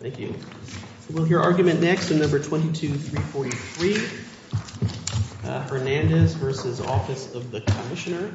Thank you. We'll hear argument next in No. 22-343. Hernandez v. Office of the Commissioner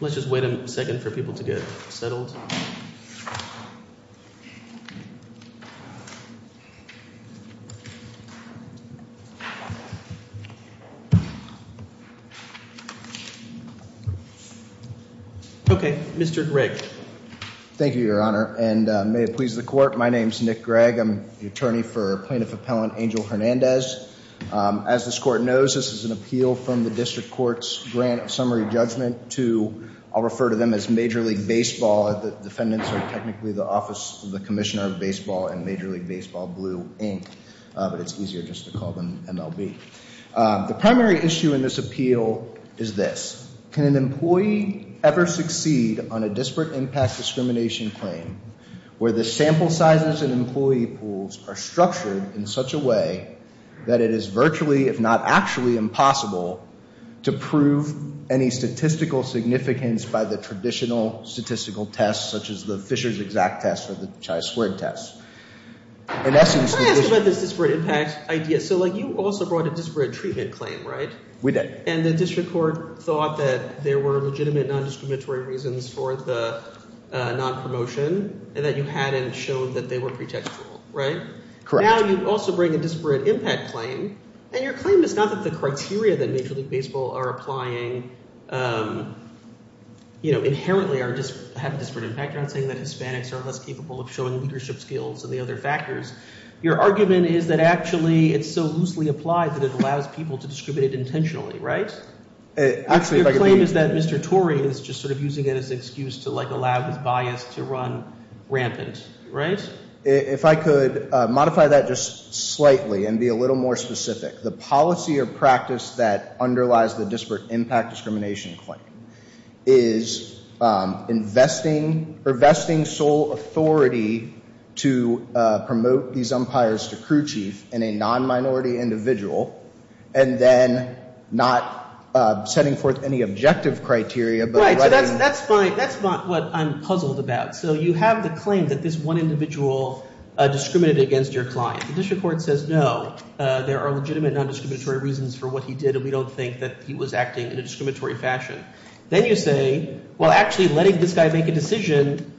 Let's just wait a second for people to get settled. Okay, Mr. Gregg. Thank you, Your Honor, and may it please the Court, my name is Nick Gregg. I'm the attorney for Plaintiff Appellant Angel Hernandez. As this Court knows, this is an appeal from the District Court's grant of summary judgment to, I'll refer to them as Major League Baseball. The defendants are technically the Office of the Commissioner of Baseball and Major League Baseball Blue, Inc. But it's easier just to call them MLB. The primary issue in this appeal is this. Can an employee ever succeed on a disparate impact discrimination claim where the sample sizes and employee pools are structured in such a way that it is virtually, if not actually, impossible to prove any statistical significance by the traditional statistical tests such as the Fisher's exact test or the Chi-squared test? Can I ask about this disparate impact idea? So, like, you also brought a disparate treatment claim, right? We did. And the District Court thought that there were legitimate nondiscriminatory reasons for the nonpromotion and that you hadn't shown that they were pretextual, right? Correct. Now you also bring a disparate impact claim, and your claim is not that the criteria that Major League Baseball are applying inherently have a disparate impact. You're not saying that Hispanics are less capable of showing leadership skills and the other factors. Your argument is that actually it's so loosely applied that it allows people to distribute it intentionally, right? Actually, if I could— Your claim is that Mr. Torrey is just sort of using it as an excuse to, like, allow his bias to run rampant, right? If I could modify that just slightly and be a little more specific. The policy or practice that underlies the disparate impact discrimination claim is investing sole authority to promote these umpires to crew chief in a non-minority individual and then not setting forth any objective criteria. Right. So that's fine. That's not what I'm puzzled about. So you have the claim that this one individual discriminated against your client. The district court says, no, there are legitimate non-discriminatory reasons for what he did, and we don't think that he was acting in a discriminatory fashion. Then you say, well, actually letting this guy make a decision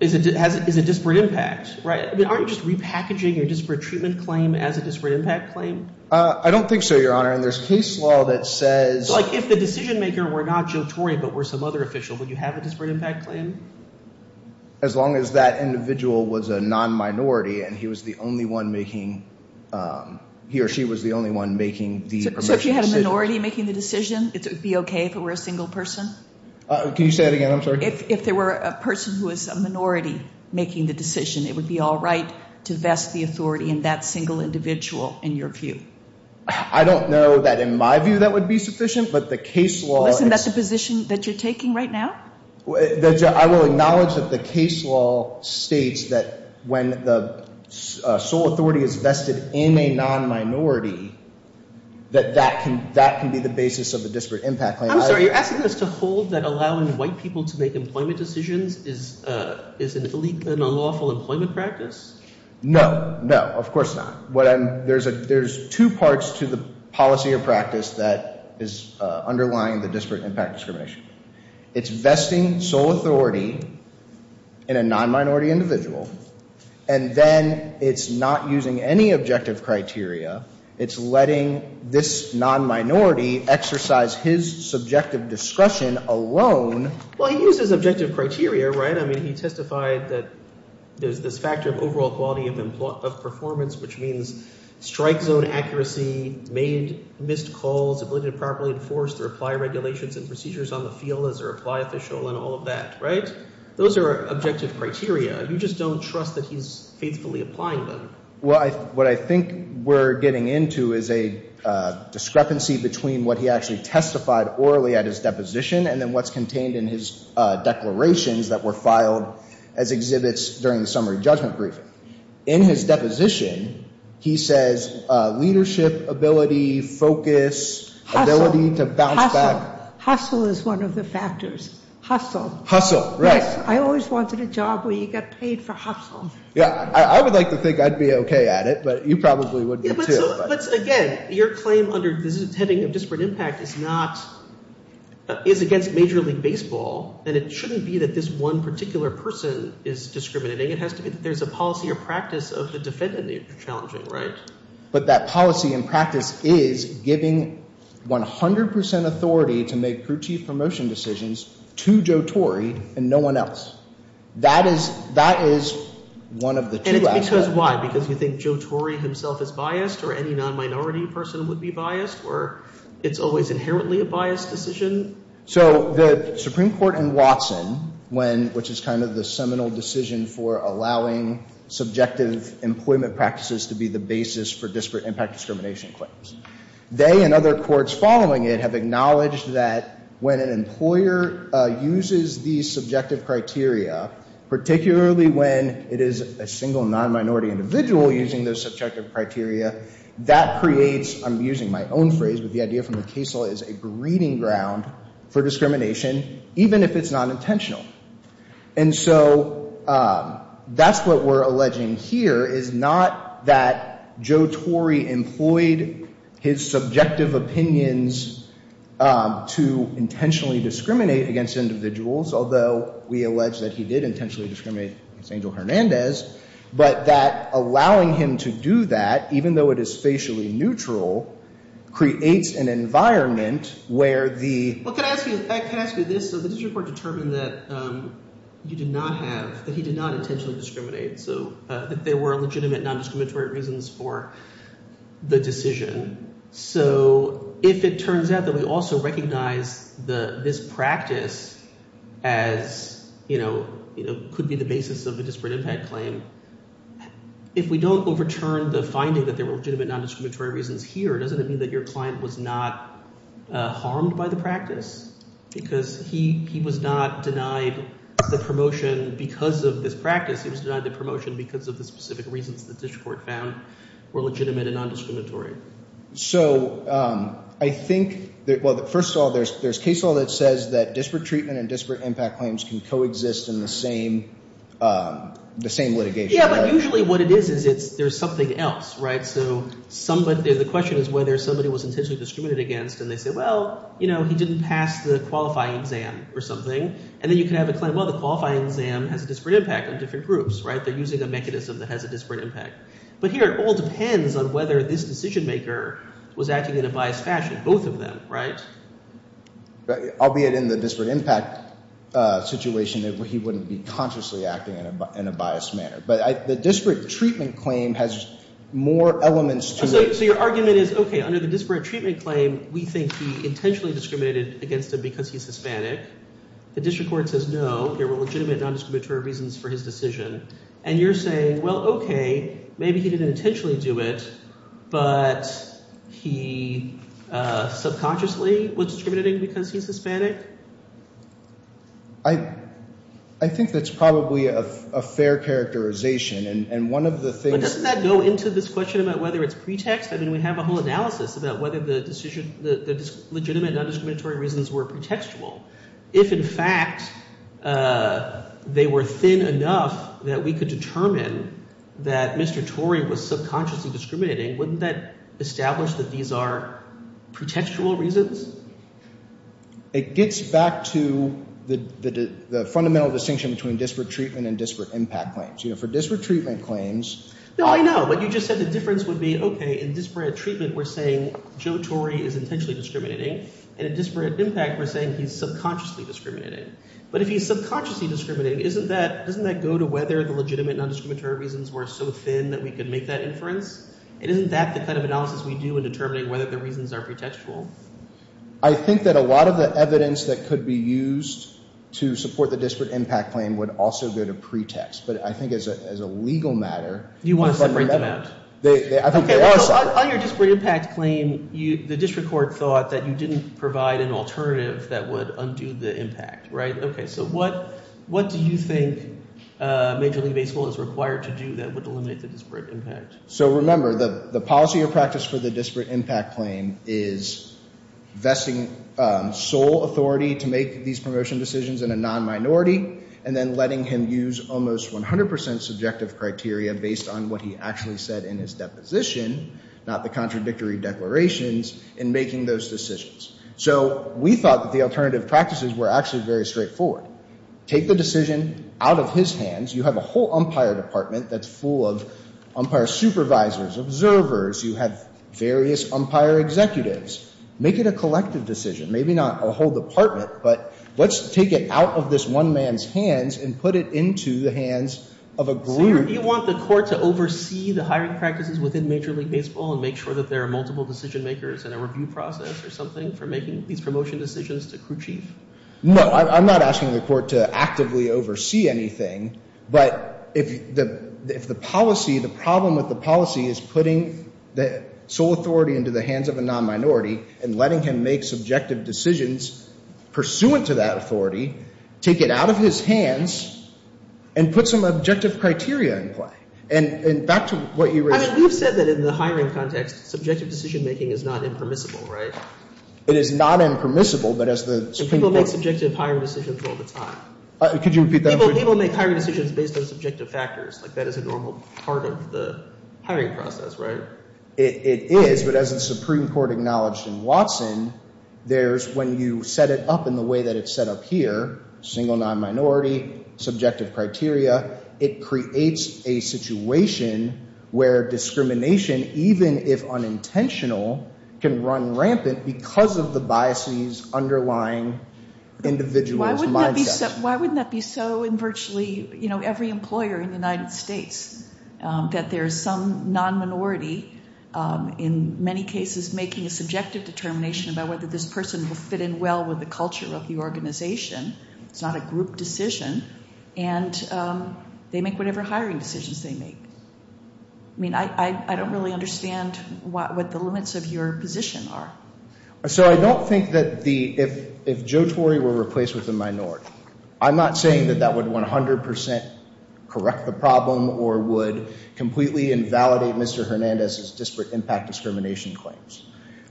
is a disparate impact, right? I mean, aren't you just repackaging your disparate treatment claim as a disparate impact claim? I don't think so, Your Honor, and there's case law that says— So, like, if the decision maker were not Joe Torre but were some other official, would you have a disparate impact claim? As long as that individual was a non-minority and he was the only one making—he or she was the only one making the— So if you had a minority making the decision, it would be okay if it were a single person? Can you say that again? I'm sorry. If there were a person who was a minority making the decision, it would be all right to vest the authority in that single individual in your view? I don't know that in my view that would be sufficient, but the case law— Listen, that's the position that you're taking right now? I will acknowledge that the case law states that when the sole authority is vested in a non-minority, that that can be the basis of a disparate impact claim. I'm sorry. You're asking us to hold that allowing white people to make employment decisions is an illegal and unlawful employment practice? No, no, of course not. There's two parts to the policy or practice that is underlying the disparate impact discrimination. It's vesting sole authority in a non-minority individual, and then it's not using any objective criteria. It's letting this non-minority exercise his subjective discretion alone. Well, he used his objective criteria, right? I mean, he testified that there's this factor of overall quality of performance, which means strike zone accuracy, missed calls, ability to properly enforce the reply regulations and procedures on the field as a reply official and all of that, right? Those are objective criteria. You just don't trust that he's faithfully applying them. Well, what I think we're getting into is a discrepancy between what he actually testified orally at his deposition and then what's contained in his declarations that were filed as exhibits during the summary judgment briefing. In his deposition, he says leadership ability, focus, ability to bounce back. Hustle. Hustle. Hustle is one of the factors. Hustle. Hustle, right. Yes. I always wanted a job where you got paid for hustle. Yeah, I would like to think I'd be okay at it, but you probably would too. But again, your claim under the heading of disparate impact is against Major League Baseball, and it shouldn't be that this one particular person is discriminating. It has to be that there's a policy or practice of the defendant that you're challenging, right? But that policy and practice is giving 100 percent authority to make crew chief promotion decisions to Joe Torrey and no one else. That is one of the two outcomes. And it's because why? Because you think Joe Torrey himself is biased or any non-minority person would be biased or it's always inherently a biased decision? So the Supreme Court in Watson, which is kind of the seminal decision for allowing subjective employment practices to be the basis for disparate impact discrimination claims, they and other courts following it have acknowledged that when an employer uses these subjective criteria, particularly when it is a single non-minority individual using those subjective criteria, that creates, I'm using my own phrase, but the idea from the case law is a breeding ground for discrimination, even if it's not intentional. And so that's what we're alleging here is not that Joe Torrey employed his subjective opinions to intentionally discriminate against individuals, although we allege that he did intentionally discriminate against Angel Hernandez, but that allowing him to do that, even though it is facially neutral, creates an environment where the... You do not have – that he did not intentionally discriminate, so that there were legitimate non-discriminatory reasons for the decision. So if it turns out that we also recognize this practice as could be the basis of a disparate impact claim, if we don't overturn the finding that there were legitimate non-discriminatory reasons here, doesn't it mean that your client was not harmed by the practice? Because he was not denied the promotion because of this practice. He was denied the promotion because of the specific reasons the district court found were legitimate and non-discriminatory. So I think – well, first of all, there's case law that says that disparate treatment and disparate impact claims can coexist in the same litigation, right? Yeah, but usually what it is is there's something else, right? So somebody – the question is whether somebody was intentionally discriminated against, and they say, well, you know, he didn't pass the qualifying exam or something, and then you can have a claim, well, the qualifying exam has a disparate impact on different groups, right? They're using a mechanism that has a disparate impact. But here it all depends on whether this decision-maker was acting in a biased fashion, both of them, right? Albeit in the disparate impact situation, he wouldn't be consciously acting in a biased manner. But the disparate treatment claim has more elements to it. So your argument is, okay, under the disparate treatment claim, we think he intentionally discriminated against him because he's Hispanic. The district court says no, there were legitimate non-discriminatory reasons for his decision. And you're saying, well, okay, maybe he didn't intentionally do it, I think that's probably a fair characterization, and one of the things— But doesn't that go into this question about whether it's pretext? I mean we have a whole analysis about whether the decision – the legitimate non-discriminatory reasons were pretextual. If in fact they were thin enough that we could determine that Mr. Tory was subconsciously discriminating, wouldn't that establish that these are pretextual reasons? It gets back to the fundamental distinction between disparate treatment and disparate impact claims. For disparate treatment claims— No, I know, but you just said the difference would be, okay, in disparate treatment we're saying Joe Tory is intentionally discriminating, and in disparate impact we're saying he's subconsciously discriminating. But if he's subconsciously discriminating, isn't that – doesn't that go to whether the legitimate non-discriminatory reasons were so thin that we could make that inference? Isn't that the kind of analysis we do in determining whether the reasons are pretextual? I think that a lot of the evidence that could be used to support the disparate impact claim would also go to pretext. But I think as a legal matter— You want to separate them out? I think they are separate. On your disparate impact claim, the district court thought that you didn't provide an alternative that would undo the impact, right? Okay, so what do you think Major League Baseball is required to do that would eliminate the disparate impact? So remember, the policy of practice for the disparate impact claim is vesting sole authority to make these promotion decisions in a non-minority and then letting him use almost 100 percent subjective criteria based on what he actually said in his deposition, not the contradictory declarations, in making those decisions. So we thought that the alternative practices were actually very straightforward. Take the decision out of his hands. You have a whole umpire department that's full of umpire supervisors, observers. You have various umpire executives. Make it a collective decision, maybe not a whole department, but let's take it out of this one man's hands and put it into the hands of a group— So you want the court to oversee the hiring practices within Major League Baseball and make sure that there are multiple decision makers and a review process or something for making these promotion decisions to crew chief? No, I'm not asking the court to actively oversee anything, but if the policy, the problem with the policy is putting the sole authority into the hands of a non-minority and letting him make subjective decisions pursuant to that authority, take it out of his hands and put some objective criteria in play. And back to what you raised— I mean, you've said that in the hiring context, subjective decision making is not impermissible, right? It is not impermissible, but as the— People make subjective hiring decisions all the time. Could you repeat that? People make hiring decisions based on subjective factors, like that is a normal part of the hiring process, right? It is, but as the Supreme Court acknowledged in Watson, there's when you set it up in the way that it's set up here, single non-minority, subjective criteria, it creates a situation where discrimination, even if unintentional, can run rampant because of the biases underlying individual's mindset. Why wouldn't that be so in virtually every employer in the United States, that there is some non-minority in many cases making a subjective determination about whether this person will fit in well with the culture of the organization? It's not a group decision, and they make whatever hiring decisions they make. I mean, I don't really understand what the limits of your position are. So I don't think that the—if Joe Torrey were replaced with a minority, I'm not saying that that would 100% correct the problem or would completely invalidate Mr. Hernandez's disparate impact discrimination claims.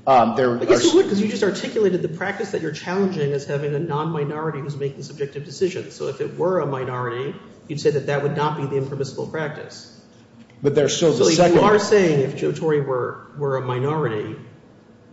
I guess it would because you just articulated the practice that you're challenging as having a non-minority who's making subjective decisions. So if it were a minority, you'd say that that would not be the impermissible practice. But there still is a second— So if you are saying if Joe Torrey were a minority,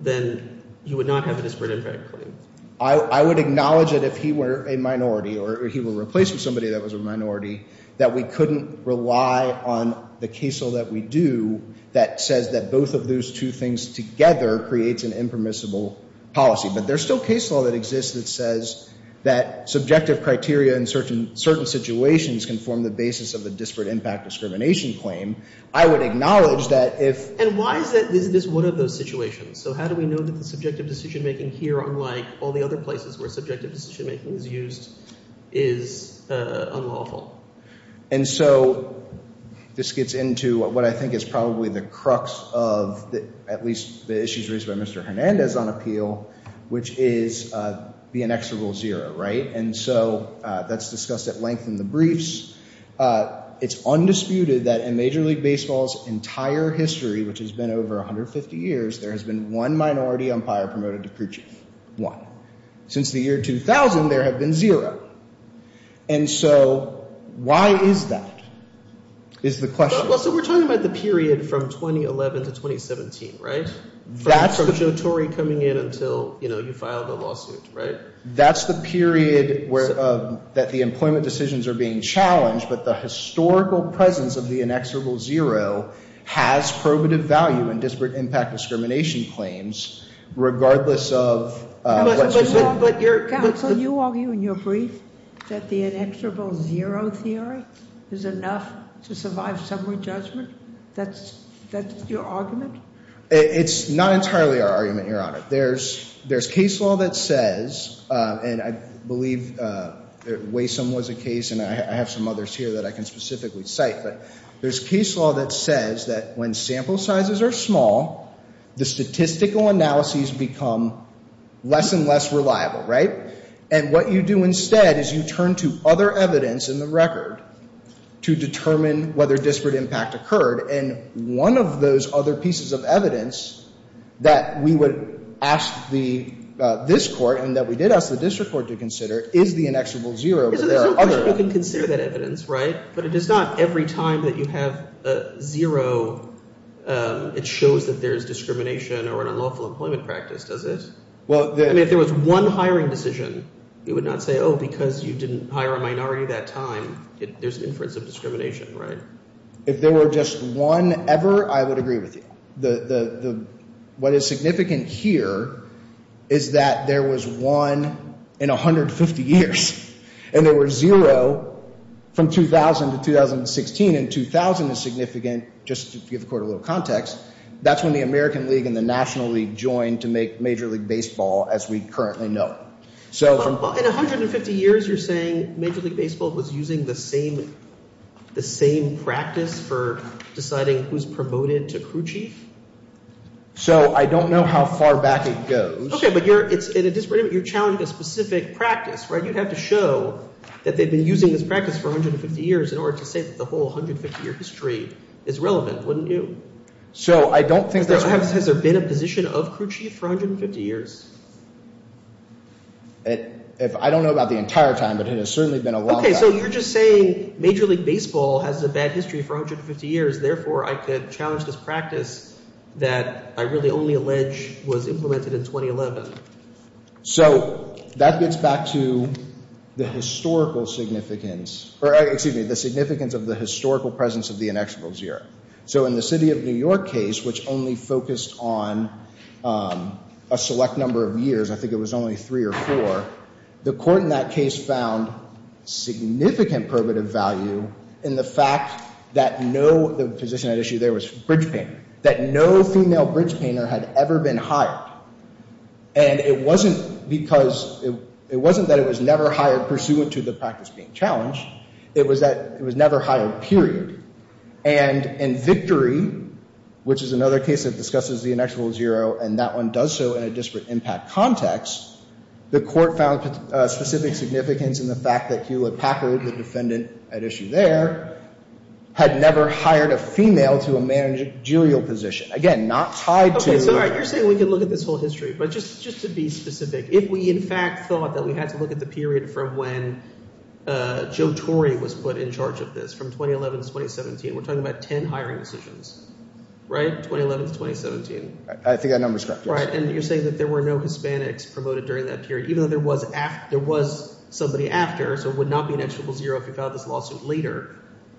then you would not have a disparate impact claim. I would acknowledge that if he were a minority or he were replaced with somebody that was a minority, that we couldn't rely on the case law that we do that says that both of those two things together creates an impermissible policy. But there's still case law that exists that says that subjective criteria in certain situations can form the basis of a disparate impact discrimination claim. I would acknowledge that if— And why is that—is this one of those situations? So how do we know that the subjective decision-making here, unlike all the other places where subjective decision-making is used, is unlawful? And so this gets into what I think is probably the crux of at least the issues raised by Mr. Hernandez on appeal, which is the inexorable zero, right? And so that's discussed at length in the briefs. It's undisputed that in Major League Baseball's entire history, which has been over 150 years, there has been one minority umpire promoted to preaching. One. Since the year 2000, there have been zero. And so why is that is the question. Well, so we're talking about the period from 2011 to 2017, right? From Joe Torrey coming in until, you know, you filed a lawsuit, right? That's the period where—that the employment decisions are being challenged, but the historical presence of the inexorable zero has probative value in disparate impact discrimination claims regardless of— But you're— Counsel, are you arguing in your brief that the inexorable zero theory is enough to survive summary judgment? That's your argument? It's not entirely our argument, Your Honor. There's case law that says, and I believe Waysome was a case, and I have some others here that I can specifically cite, but there's case law that says that when sample sizes are small, the statistical analyses become less and less reliable, right? And what you do instead is you turn to other evidence in the record to determine whether disparate impact occurred, and one of those other pieces of evidence that we would ask this court and that we did ask the district court to consider is the inexorable zero, but there are other— So there's no question you can consider that evidence, right? But it is not every time that you have a zero, it shows that there is discrimination or an unlawful employment practice, does it? Well, the— I mean, if there was one hiring decision, you would not say, oh, because you didn't hire a minority that time, there's inference of discrimination, right? If there were just one ever, I would agree with you. What is significant here is that there was one in 150 years, and there were zero from 2000 to 2016, and 2000 is significant just to give the court a little context. That's when the American League and the National League joined to make Major League Baseball as we currently know it. In 150 years, you're saying Major League Baseball was using the same practice for deciding who's promoted to crew chief? So I don't know how far back it goes. Okay, but you're challenging a specific practice, right? You'd have to show that they've been using this practice for 150 years in order to say that the whole 150-year history is relevant, wouldn't you? Has there been a position of crew chief for 150 years? I don't know about the entire time, but it has certainly been a long time. Okay, so you're just saying Major League Baseball has a bad history for 150 years, therefore I could challenge this practice that I really only allege was implemented in 2011. So that gets back to the historical significance— or excuse me, the significance of the historical presence of the inexorable zero. So in the City of New York case, which only focused on a select number of years— I think it was only three or four— the court in that case found significant probative value in the fact that no— the position at issue there was bridge painter— that no female bridge painter had ever been hired. And it wasn't because—it wasn't that it was never hired pursuant to the practice being challenged. It was that it was never hired, period. And in Victory, which is another case that discusses the inexorable zero, and that one does so in a disparate impact context, the court found specific significance in the fact that Hewlett-Packard, the defendant at issue there, had never hired a female to a managerial position. Again, not tied to— Okay, so you're saying we can look at this whole history. But just to be specific, if we in fact thought that we had to look at the period from when Joe Torrey was put in charge of this, from 2011 to 2017, we're talking about 10 hiring decisions, right? 2011 to 2017. I think that number's correct, yes. Right, and you're saying that there were no Hispanics promoted during that period, even though there was somebody after, so it would not be an inexorable zero if you filed this lawsuit later.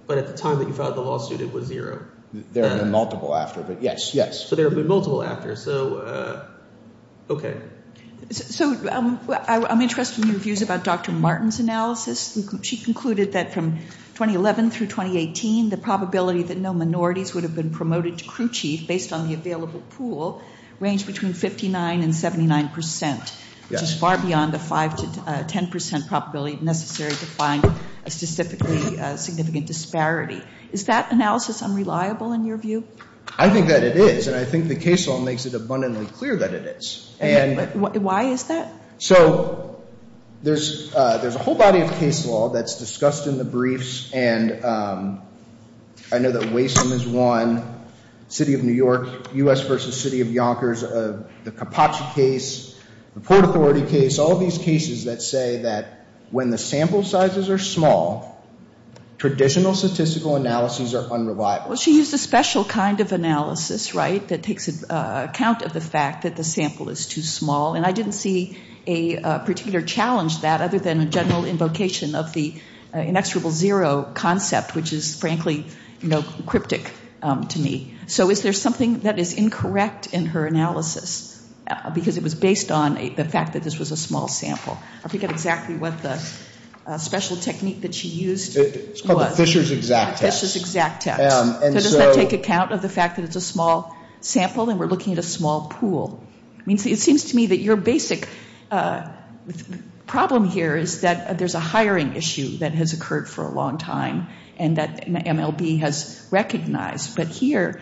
But at the time that you filed the lawsuit, it was zero. There have been multiple after, but yes, yes. So there have been multiple after. So, okay. So I'm interested in your views about Dr. Martin's analysis. She concluded that from 2011 through 2018, the probability that no minorities would have been promoted to crew chief based on the available pool ranged between 59% and 79%, which is far beyond the 5% to 10% probability necessary to find a specifically significant disparity. Is that analysis unreliable in your view? I think that it is, and I think the case law makes it abundantly clear that it is. Why is that? So there's a whole body of case law that's discussed in the briefs, and I know that Waysome is one, City of New York, U.S. v. City of Yonkers, the Capacci case, the Port Authority case, all of these cases that say that when the sample sizes are small, traditional statistical analyses are unreliable. Well, she used a special kind of analysis, right, that takes account of the fact that the sample is too small, and I didn't see a particular challenge to that other than a general invocation of the inexorable zero concept, which is frankly cryptic to me. So is there something that is incorrect in her analysis because it was based on the fact that this was a small sample? I forget exactly what the special technique that she used was. It's called the Fisher's exact test. The Fisher's exact test. So does that take account of the fact that it's a small sample and we're looking at a small pool? It seems to me that your basic problem here is that there's a hiring issue that has occurred for a long time and that MLB has recognized, but here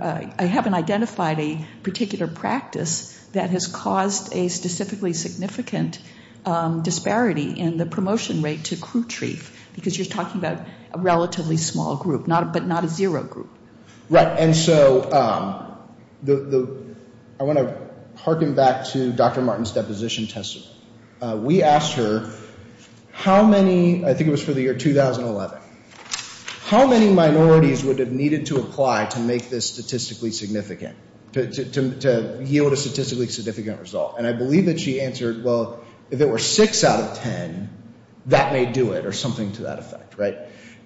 I haven't identified a particular practice that has caused a specifically significant disparity in the promotion rate to crew chief because you're talking about a relatively small group, but not a zero group. Right, and so I want to harken back to Dr. Martin's deposition test. We asked her how many, I think it was for the year 2011, how many minorities would have needed to apply to make this statistically significant, to yield a statistically significant result, and I believe that she answered, well, if it were six out of ten, that may do it or something to that effect, right?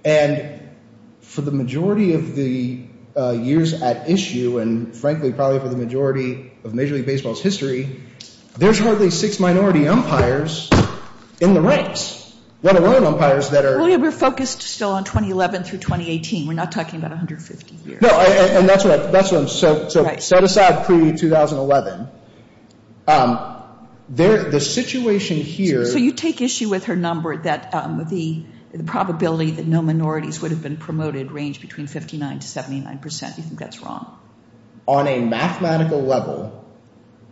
And for the majority of the years at issue and frankly probably for the majority of Major League Baseball's history, there's hardly six minority umpires in the ranks, let alone umpires that are— Well, yeah, we're focused still on 2011 through 2018. We're not talking about 150 years. No, and that's what I'm—so set aside pre-2011. The situation here— So you take issue with her number that the probability that no minorities would have been promoted ranged between 59% to 79%. Do you think that's wrong? On a mathematical level,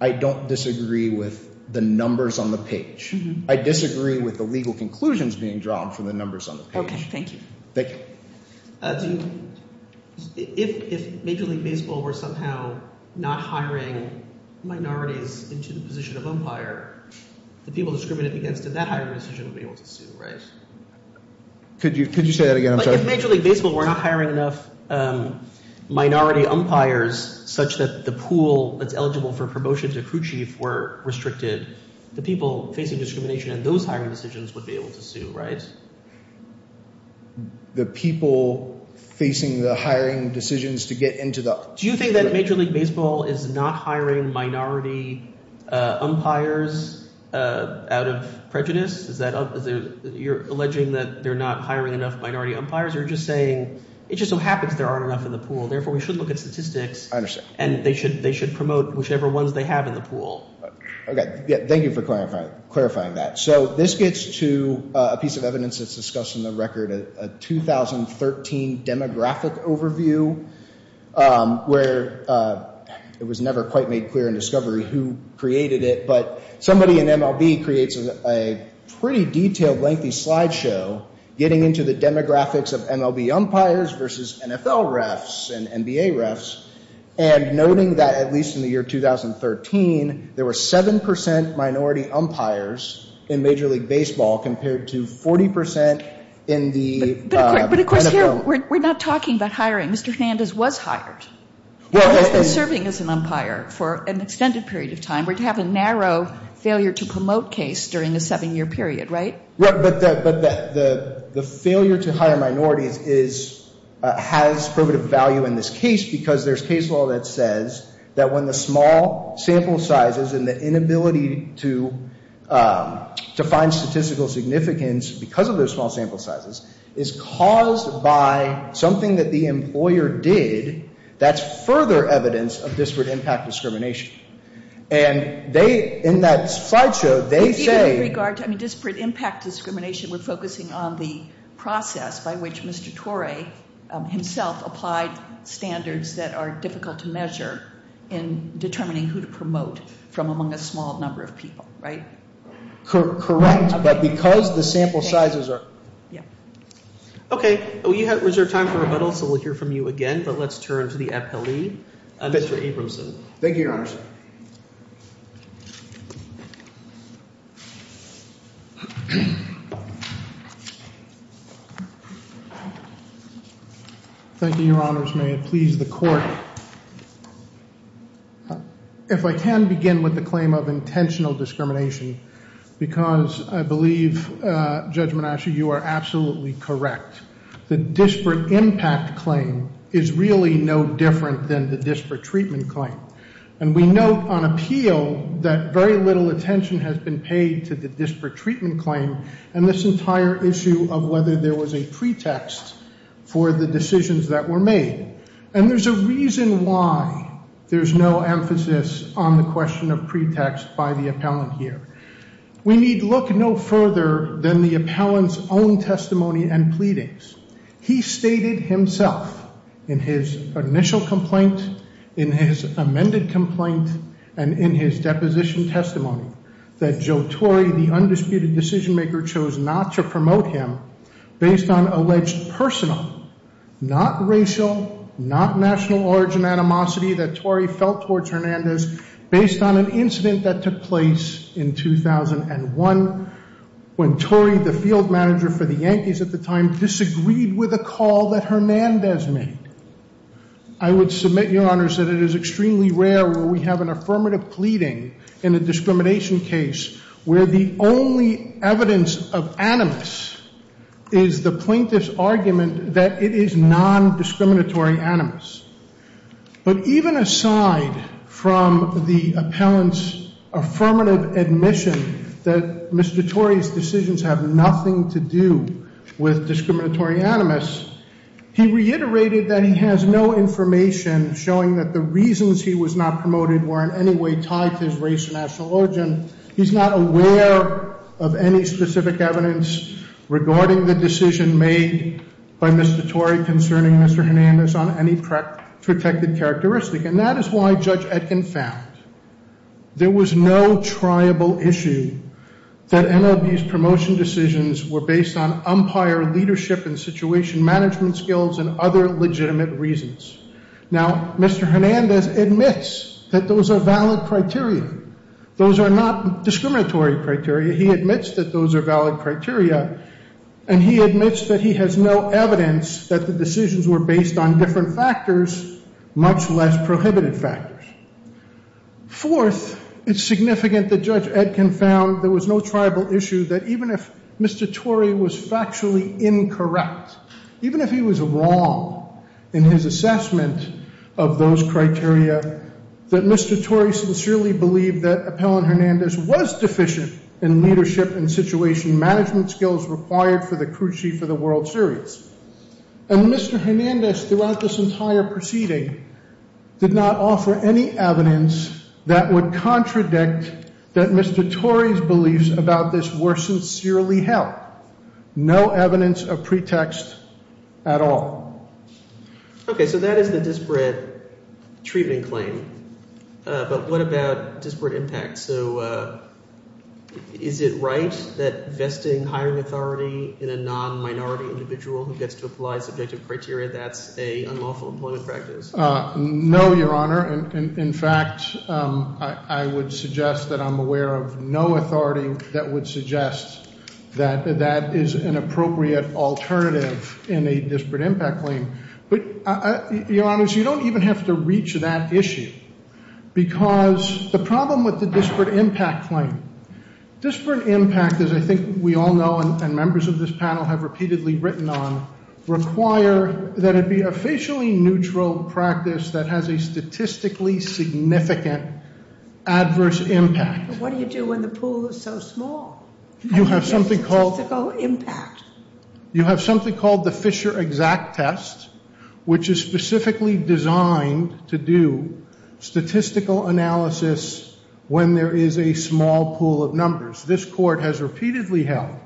I don't disagree with the numbers on the page. I disagree with the legal conclusions being drawn from the numbers on the page. Okay, thank you. Thank you. If Major League Baseball were somehow not hiring minorities into the position of umpire, the people discriminated against in that hiring decision would be able to sue, right? Could you say that again? I'm sorry. If Major League Baseball were not hiring enough minority umpires such that the pool that's eligible for promotion to crew chief were restricted, the people facing discrimination in those hiring decisions would be able to sue, right? The people facing the hiring decisions to get into the— Do you think that Major League Baseball is not hiring minority umpires out of prejudice? Is that—you're alleging that they're not hiring enough minority umpires, or you're just saying it just so happens there aren't enough in the pool. Therefore, we should look at statistics. I understand. And they should promote whichever ones they have in the pool. Okay, thank you for clarifying that. So this gets to a piece of evidence that's discussed in the record, a 2013 demographic overview where it was never quite made clear in discovery who created it, but somebody in MLB creates a pretty detailed, lengthy slideshow getting into the demographics of MLB umpires versus NFL refs and NBA refs and noting that, at least in the year 2013, there were 7% minority umpires in Major League Baseball compared to 40% in the NFL— But, of course, we're not talking about hiring. Mr. Hernandez was hired. Well, if they're serving as an umpire for an extended period of time, we'd have a narrow failure to promote case during a seven-year period, right? Right, but the failure to hire minorities is—has primitive value in this case because there's case law that says that when the small sample sizes and the inability to find statistical significance because of those small sample sizes is caused by something that the employer did, that's further evidence of disparate impact discrimination. And they—in that slideshow, they say— Even in regard to disparate impact discrimination, we're focusing on the process by which Mr. Torre himself applied standards that are difficult to measure in determining who to promote from among a small number of people, right? Correct, but because the sample sizes are— Okay, we have reserved time for rebuttal, so we'll hear from you again, but let's turn to the appellee, Mr. Abramson. Thank you, Your Honor. Thank you, Your Honors. May it please the Court. If I can begin with the claim of intentional discrimination because I believe, Judge Menasca, you are absolutely correct. The disparate impact claim is really no different than the disparate treatment claim. And we note on appeal that very little attention has been paid to the disparate treatment claim and this entire issue of whether there was a pretext for the decisions that were made. And there's a reason why there's no emphasis on the question of pretext by the appellant here. We need look no further than the appellant's own testimony and pleadings. He stated himself in his initial complaint, in his amended complaint, and in his deposition testimony that Joe Torrey, the undisputed decision-maker, chose not to promote him based on alleged personal, not racial, not national origin animosity that Torrey felt towards Hernandez based on an incident that took place in 2001 when Torrey, the field manager for the Yankees at the time, disagreed with a call that Hernandez made. I would submit, Your Honors, that it is extremely rare where we have an affirmative pleading in a discrimination case where the only evidence of animus is the plaintiff's argument that it is non-discriminatory animus. But even aside from the appellant's affirmative admission that Mr. Torrey's decisions have nothing to do with discriminatory animus, he reiterated that he has no information showing that the reasons he was not promoted were in any way tied to his race or national origin. He's not aware of any specific evidence regarding the decision made by Mr. Torrey concerning Mr. Hernandez on any protected characteristic. And that is why Judge Etkin found there was no triable issue that MLB's promotion decisions were based on umpire leadership and situation management skills and other legitimate reasons. Now, Mr. Hernandez admits that those are valid criteria. Those are not discriminatory criteria. He admits that those are valid criteria, and he admits that he has no evidence that the decisions were based on different factors, much less prohibited factors. Fourth, it's significant that Judge Etkin found there was no triable issue that even if Mr. Torrey was factually incorrect, even if he was wrong in his assessment of those criteria, that Mr. Torrey sincerely believed that Appellant Hernandez was deficient in leadership and situation management skills required for the cruci for the World Series. And Mr. Hernandez throughout this entire proceeding did not offer any evidence that would contradict that Mr. Torrey's beliefs about this were sincerely held. No evidence of pretext at all. Okay, so that is the disparate treatment claim. But what about disparate impact? So is it right that vesting hiring authority in a non-minority individual who gets to apply subjective criteria, that's an unlawful employment practice? No, Your Honor. In fact, I would suggest that I'm aware of no authority that would suggest that that is an appropriate alternative in a disparate impact claim. But, Your Honors, you don't even have to reach that issue because the problem with the disparate impact claim, disparate impact, as I think we all know and members of this panel have repeatedly written on, require that it be a facially neutral practice that has a statistically significant adverse impact. But what do you do when the pool is so small? You have something called the Fisher exact test, which is specifically designed to do statistical analysis when there is a small pool of numbers. This Court has repeatedly held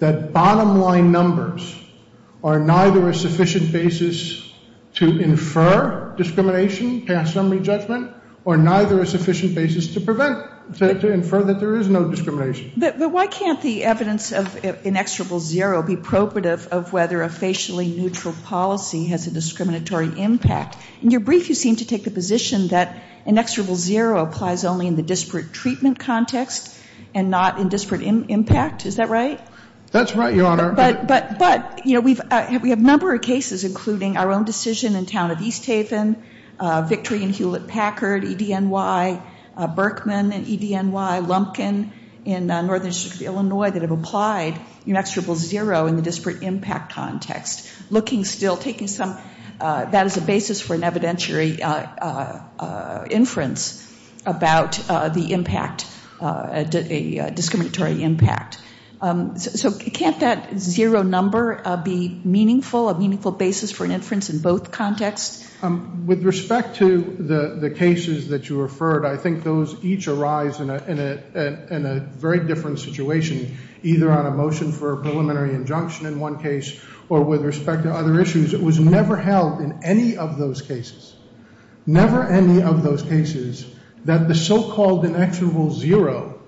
that bottom line numbers are neither a sufficient basis to infer discrimination, pass summary judgment, or neither a sufficient basis to prevent, to infer that there is no discrimination. But why can't the evidence of inexorable zero be probative of whether a facially neutral policy has a discriminatory impact? In your brief, you seem to take the position that inexorable zero applies only in the disparate treatment context and not in disparate impact. Is that right? That's right, Your Honor. But, you know, we have a number of cases, including our own decision in town of East Haven, Victory and Hewlett-Packard, EDNY, Berkman and EDNY, Lumpkin in Northern District of Illinois, that have applied inexorable zero in the disparate impact context. Looking still, taking some, that is a basis for an evidentiary inference about the impact, a discriminatory impact. So can't that zero number be meaningful, a meaningful basis for an inference in both contexts? With respect to the cases that you referred, I think those each arise in a very different situation, either on a motion for a preliminary injunction in one case or with respect to other issues. It was never held in any of those cases, never any of those cases, that the so-called inexorable zero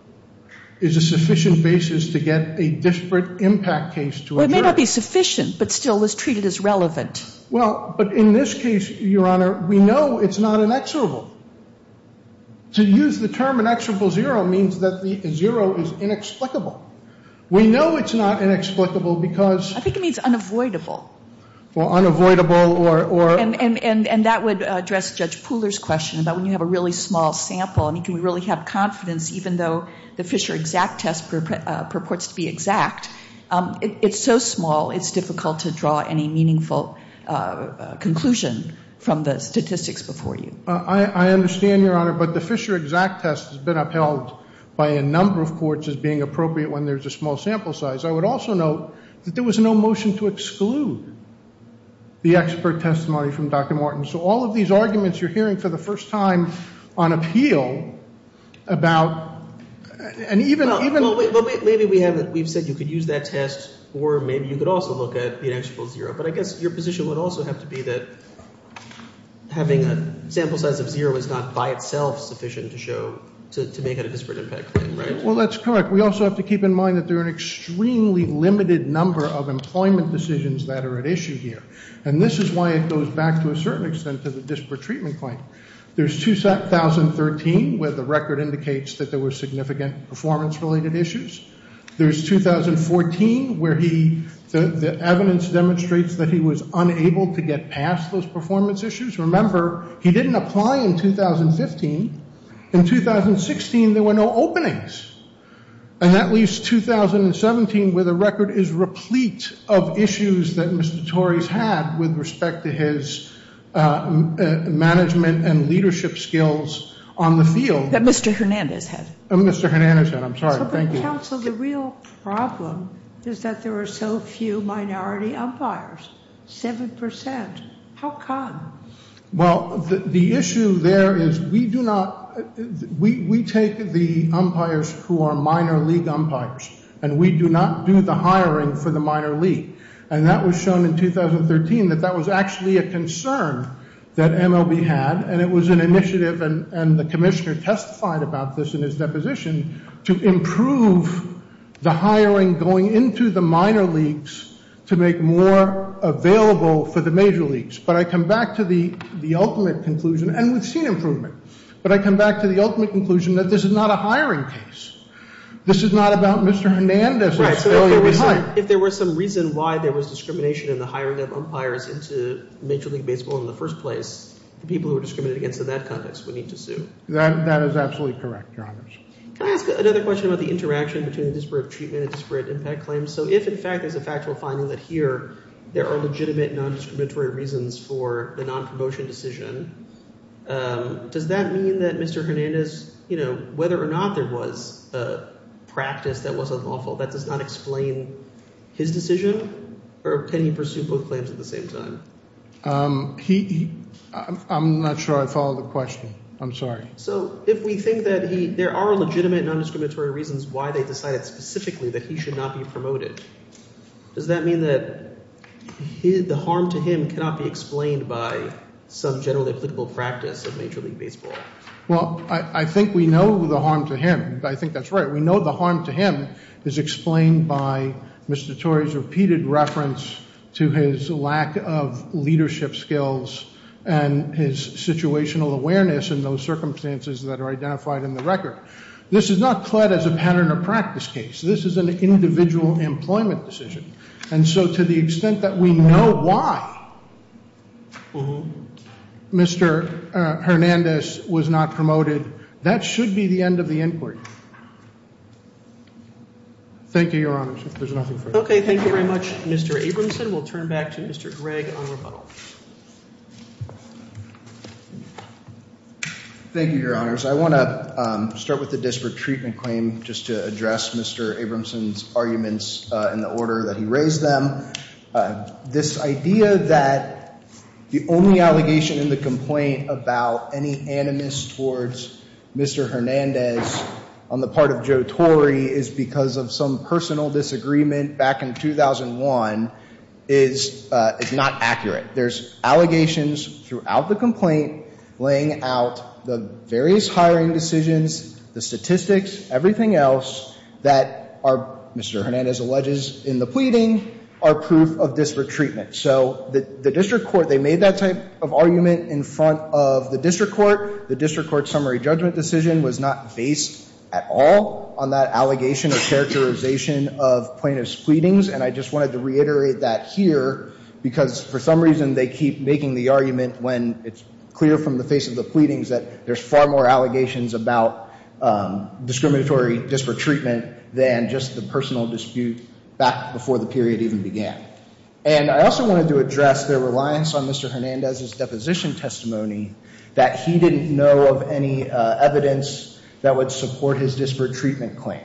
is a sufficient basis to get a disparate impact case to occur. Well, it may not be sufficient, but still is treated as relevant. Well, but in this case, Your Honor, we know it's not inexorable. To use the term inexorable zero means that the zero is inexplicable. We know it's not inexplicable because... I think it means unavoidable. Well, unavoidable or... And that would address Judge Pooler's question about when you have a really small sample and you can really have confidence even though the Fisher exact test purports to be exact, it's so small it's difficult to draw any meaningful conclusion from the statistics before you. I understand, Your Honor, but the Fisher exact test has been upheld by a number of courts as being appropriate when there's a small sample size. I would also note that there was no motion to exclude the expert testimony from Dr. Morton. So all of these arguments you're hearing for the first time on appeal about... And even... Well, maybe we have... We've said you could use that test or maybe you could also look at the inexorable zero, but I guess your position would also have to be that having a sample size of zero is not by itself sufficient to show, to make it a disparate impact claim, right? Well, that's correct. We also have to keep in mind that there are an extremely limited number of employment decisions that are at issue here, and this is why it goes back to a certain extent to the disparate treatment claim. There's 2013 where the record indicates that there were significant performance-related issues. There's 2014 where he... The evidence demonstrates that he was unable to get past those performance issues. Remember, he didn't apply in 2015. In 2016, there were no openings. And that leaves 2017 where the record is replete of issues that Mr. Torrey's had with respect to his management and leadership skills on the field. That Mr. Hernandez had. Mr. Hernandez had. I'm sorry. Thank you. But, counsel, the real problem is that there are so few minority umpires, 7%. How come? Well, the issue there is we do not... We take the umpires who are minor league umpires, and we do not do the hiring for the minor league. And that was shown in 2013 that that was actually a concern that MLB had, and it was an initiative, and the commissioner testified about this in his deposition, to improve the hiring going into the minor leagues to make more available for the major leagues. But I come back to the ultimate conclusion, and we've seen improvement, but I come back to the ultimate conclusion that this is not a hiring case. This is not about Mr. Hernandez. Right. If there was some reason why there was discrimination in the hiring of umpires into major league baseball in the first place, the people who were discriminated against in that context would need to sue. That is absolutely correct, Your Honor. Can I ask another question about the interaction between disparate treatment and disparate impact claims? So if, in fact, there's a factual finding that here there are legitimate nondiscriminatory reasons for the nonpromotion decision, does that mean that Mr. Hernandez, you know, whether or not there was a practice that was unlawful, that does not explain his decision? Or can he pursue both claims at the same time? He... I'm not sure I followed the question. I'm sorry. So if we think that there are legitimate nondiscriminatory reasons why they decided specifically that he should not be promoted, does that mean that the harm to him cannot be explained by some generally applicable practice of major league baseball? Well, I think we know the harm to him. I think that's right. We know the harm to him is explained by Mr. Torrey's repeated reference to his lack of leadership skills and his situational awareness in those circumstances that are identified in the record. This is not pled as a pattern or practice case. This is an individual employment decision. And so to the extent that we know why Mr. Hernandez was not promoted, that should be the end of the inquiry. Thank you, Your Honors. If there's nothing further. Okay. Thank you very much, Mr. Abramson. We'll turn back to Mr. Gregg on rebuttal. Thank you, Your Honors. I want to start with the disparate treatment claim just to address Mr. Abramson's arguments in the order that he raised them. This idea that the only allegation in the complaint about any animus towards Mr. Hernandez on the part of Joe Torrey is because of some personal disagreement back in 2001 is not accurate. There's allegations throughout the complaint laying out the various hiring decisions, the statistics, everything else, that Mr. Hernandez alleges in the pleading are proof of disparate treatment. So the district court, they made that type of argument in front of the district court. The district court summary judgment decision was not based at all on that allegation or characterization of plaintiff's pleadings. And I just wanted to reiterate that here because for some reason they keep making the argument when it's clear from the face of the pleadings that there's far more allegations about discriminatory disparate treatment than just the personal dispute back before the period even began. And I also wanted to address their reliance on Mr. Hernandez's deposition testimony that he didn't know of any evidence that would support his disparate treatment claim.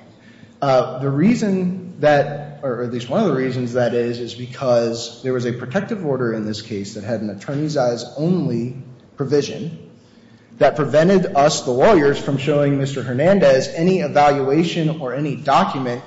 The reason that, or at least one of the reasons that is, is because there was a protective order in this case that had an attorney's eyes only provision that prevented us, the lawyers, from showing Mr. Hernandez any evaluation or any document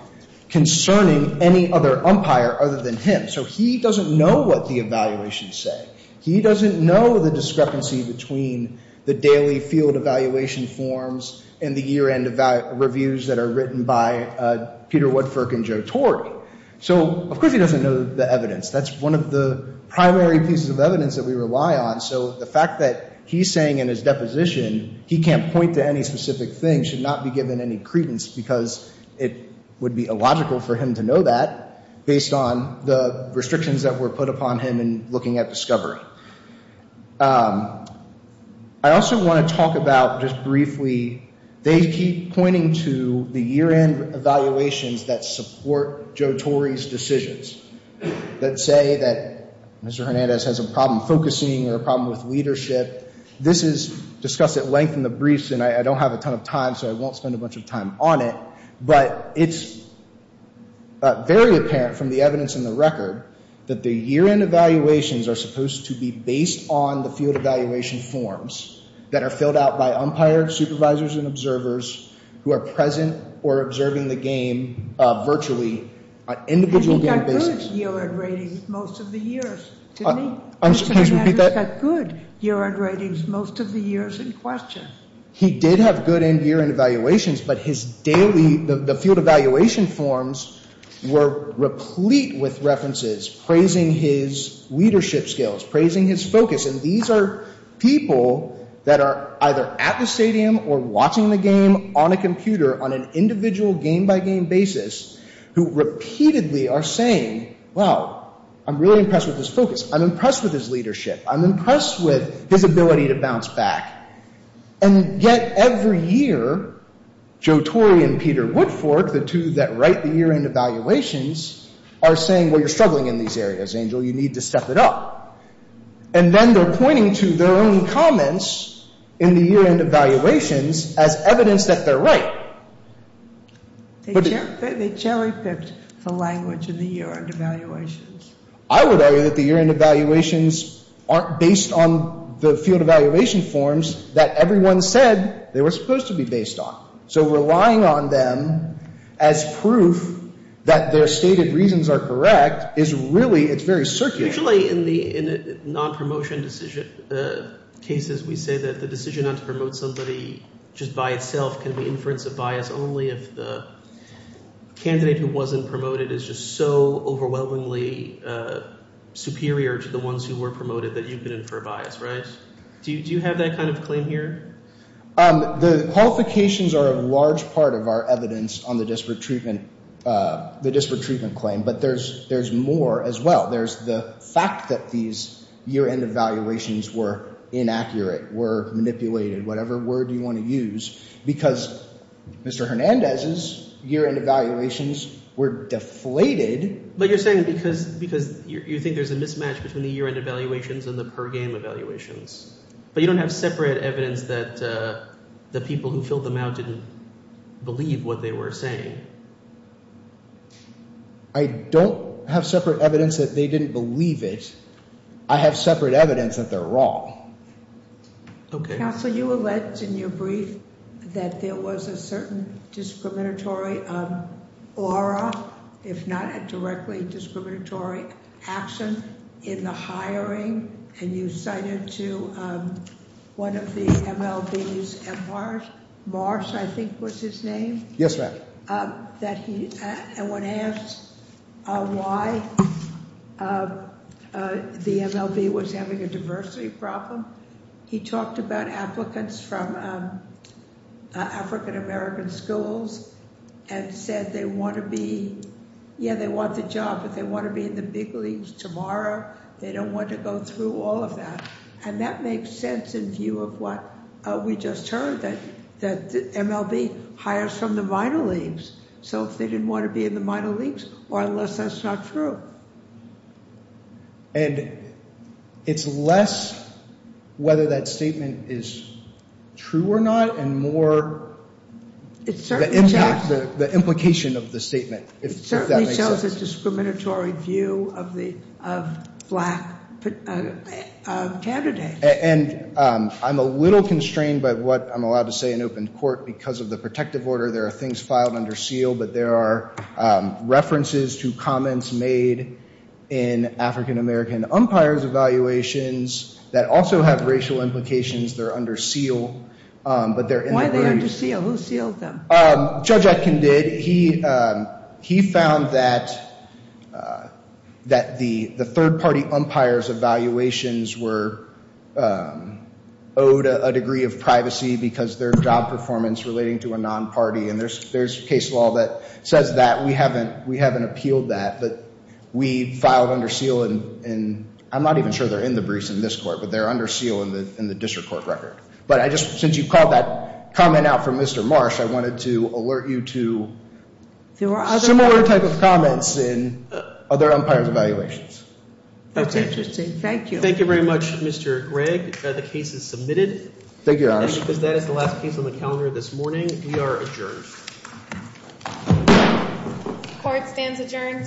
concerning any other umpire other than him. So he doesn't know what the evaluations say. He doesn't know the discrepancy between the daily field evaluation forms and the year-end reviews that are written by Peter Woodford and Joe Tori. So, of course, he doesn't know the evidence. That's one of the primary pieces of evidence that we rely on. So the fact that he's saying in his deposition he can't point to any specific thing should not be given any credence because it would be illogical for him to know that based on the restrictions that were put upon him in looking at discovery. I also want to talk about, just briefly, they keep pointing to the year-end evaluations that support Joe Tori's decisions. That say that Mr. Hernandez has a problem focusing or a problem with leadership. This is discussed at length in the briefs, and I don't have a ton of time, so I won't spend a bunch of time on it. But it's very apparent from the evidence in the record that the year-end evaluations are supposed to be based on the field evaluation forms that are filled out by umpires, supervisors, and observers who are present or observing the game virtually. And he got good year-end ratings most of the years, didn't he? Mr. Hernandez got good year-end ratings most of the years in question. He did have good year-end evaluations, but his daily, the field evaluation forms were replete with references praising his leadership skills, praising his focus, and these are people that are either at the stadium or watching the game on a computer on an individual game-by-game basis who repeatedly are saying, well, I'm really impressed with his focus, I'm impressed with his leadership, I'm impressed with his ability to bounce back. And yet every year, Joe Tori and Peter Woodfork, the two that write the year-end evaluations, are saying, well, you're struggling in these areas, Angel, you need to step it up. And then they're pointing to their own comments in the year-end evaluations as evidence that they're right. They cherry-picked the language in the year-end evaluations. I would argue that the year-end evaluations aren't based on the field evaluation forms that everyone said they were supposed to be based on. So relying on them as proof that their stated reasons are correct is really, it's very circuitous. Usually in the non-promotion decision cases, we say that the decision not to promote somebody just by itself can be inference of bias only if the candidate who wasn't promoted is just so overwhelmingly superior to the ones who were promoted that you can infer bias, right? Do you have that kind of claim here? The qualifications are a large part of our evidence on the disparate treatment claim, but there's more as well. There's the fact that these year-end evaluations were inaccurate, were manipulated, whatever word you want to use, because Mr. Hernandez's year-end evaluations were deflated. But you're saying because you think there's a mismatch between the year-end evaluations and the per-game evaluations. But you don't have separate evidence that the people who filled them out didn't believe what they were saying. I don't have separate evidence that they didn't believe it. I have separate evidence that they're wrong. Okay. Counsel, you alleged in your brief that there was a certain discriminatory aura, if not a directly discriminatory action in the hiring. And you cited to one of the MLBs, Marsh, I think was his name. Yes, ma'am. And when asked why the MLB was having a diversity problem, he talked about applicants from African-American schools and said they want to be, yeah, they want the job, but they want to be in the big leagues tomorrow. They don't want to go through all of that. And that makes sense in view of what we just heard, that the MLB hires from the minor leagues. So if they didn't want to be in the minor leagues, or unless that's not true. And it's less whether that statement is true or not and more the implication of the statement, if that makes sense. So there was a discriminatory view of black candidates. And I'm a little constrained by what I'm allowed to say in open court because of the protective order. There are things filed under seal, but there are references to comments made in African-American umpires evaluations that also have racial implications. They're under seal. Why are they under seal? Who sealed them? Judge Atkin did. He found that the third-party umpire's evaluations were owed a degree of privacy because their job performance relating to a non-party. And there's case law that says that. We haven't appealed that, but we filed under seal. And I'm not even sure they're in the briefs in this court, but they're under seal in the district court record. But since you called that comment out for Mr. Marsh, I wanted to alert you to similar type of comments in other umpires' evaluations. That's interesting. Thank you. Thank you very much, Mr. Gregg. The case is submitted. Thank you, Your Honor. And because that is the last case on the calendar this morning, we are adjourned. Court stands adjourned. Thank you.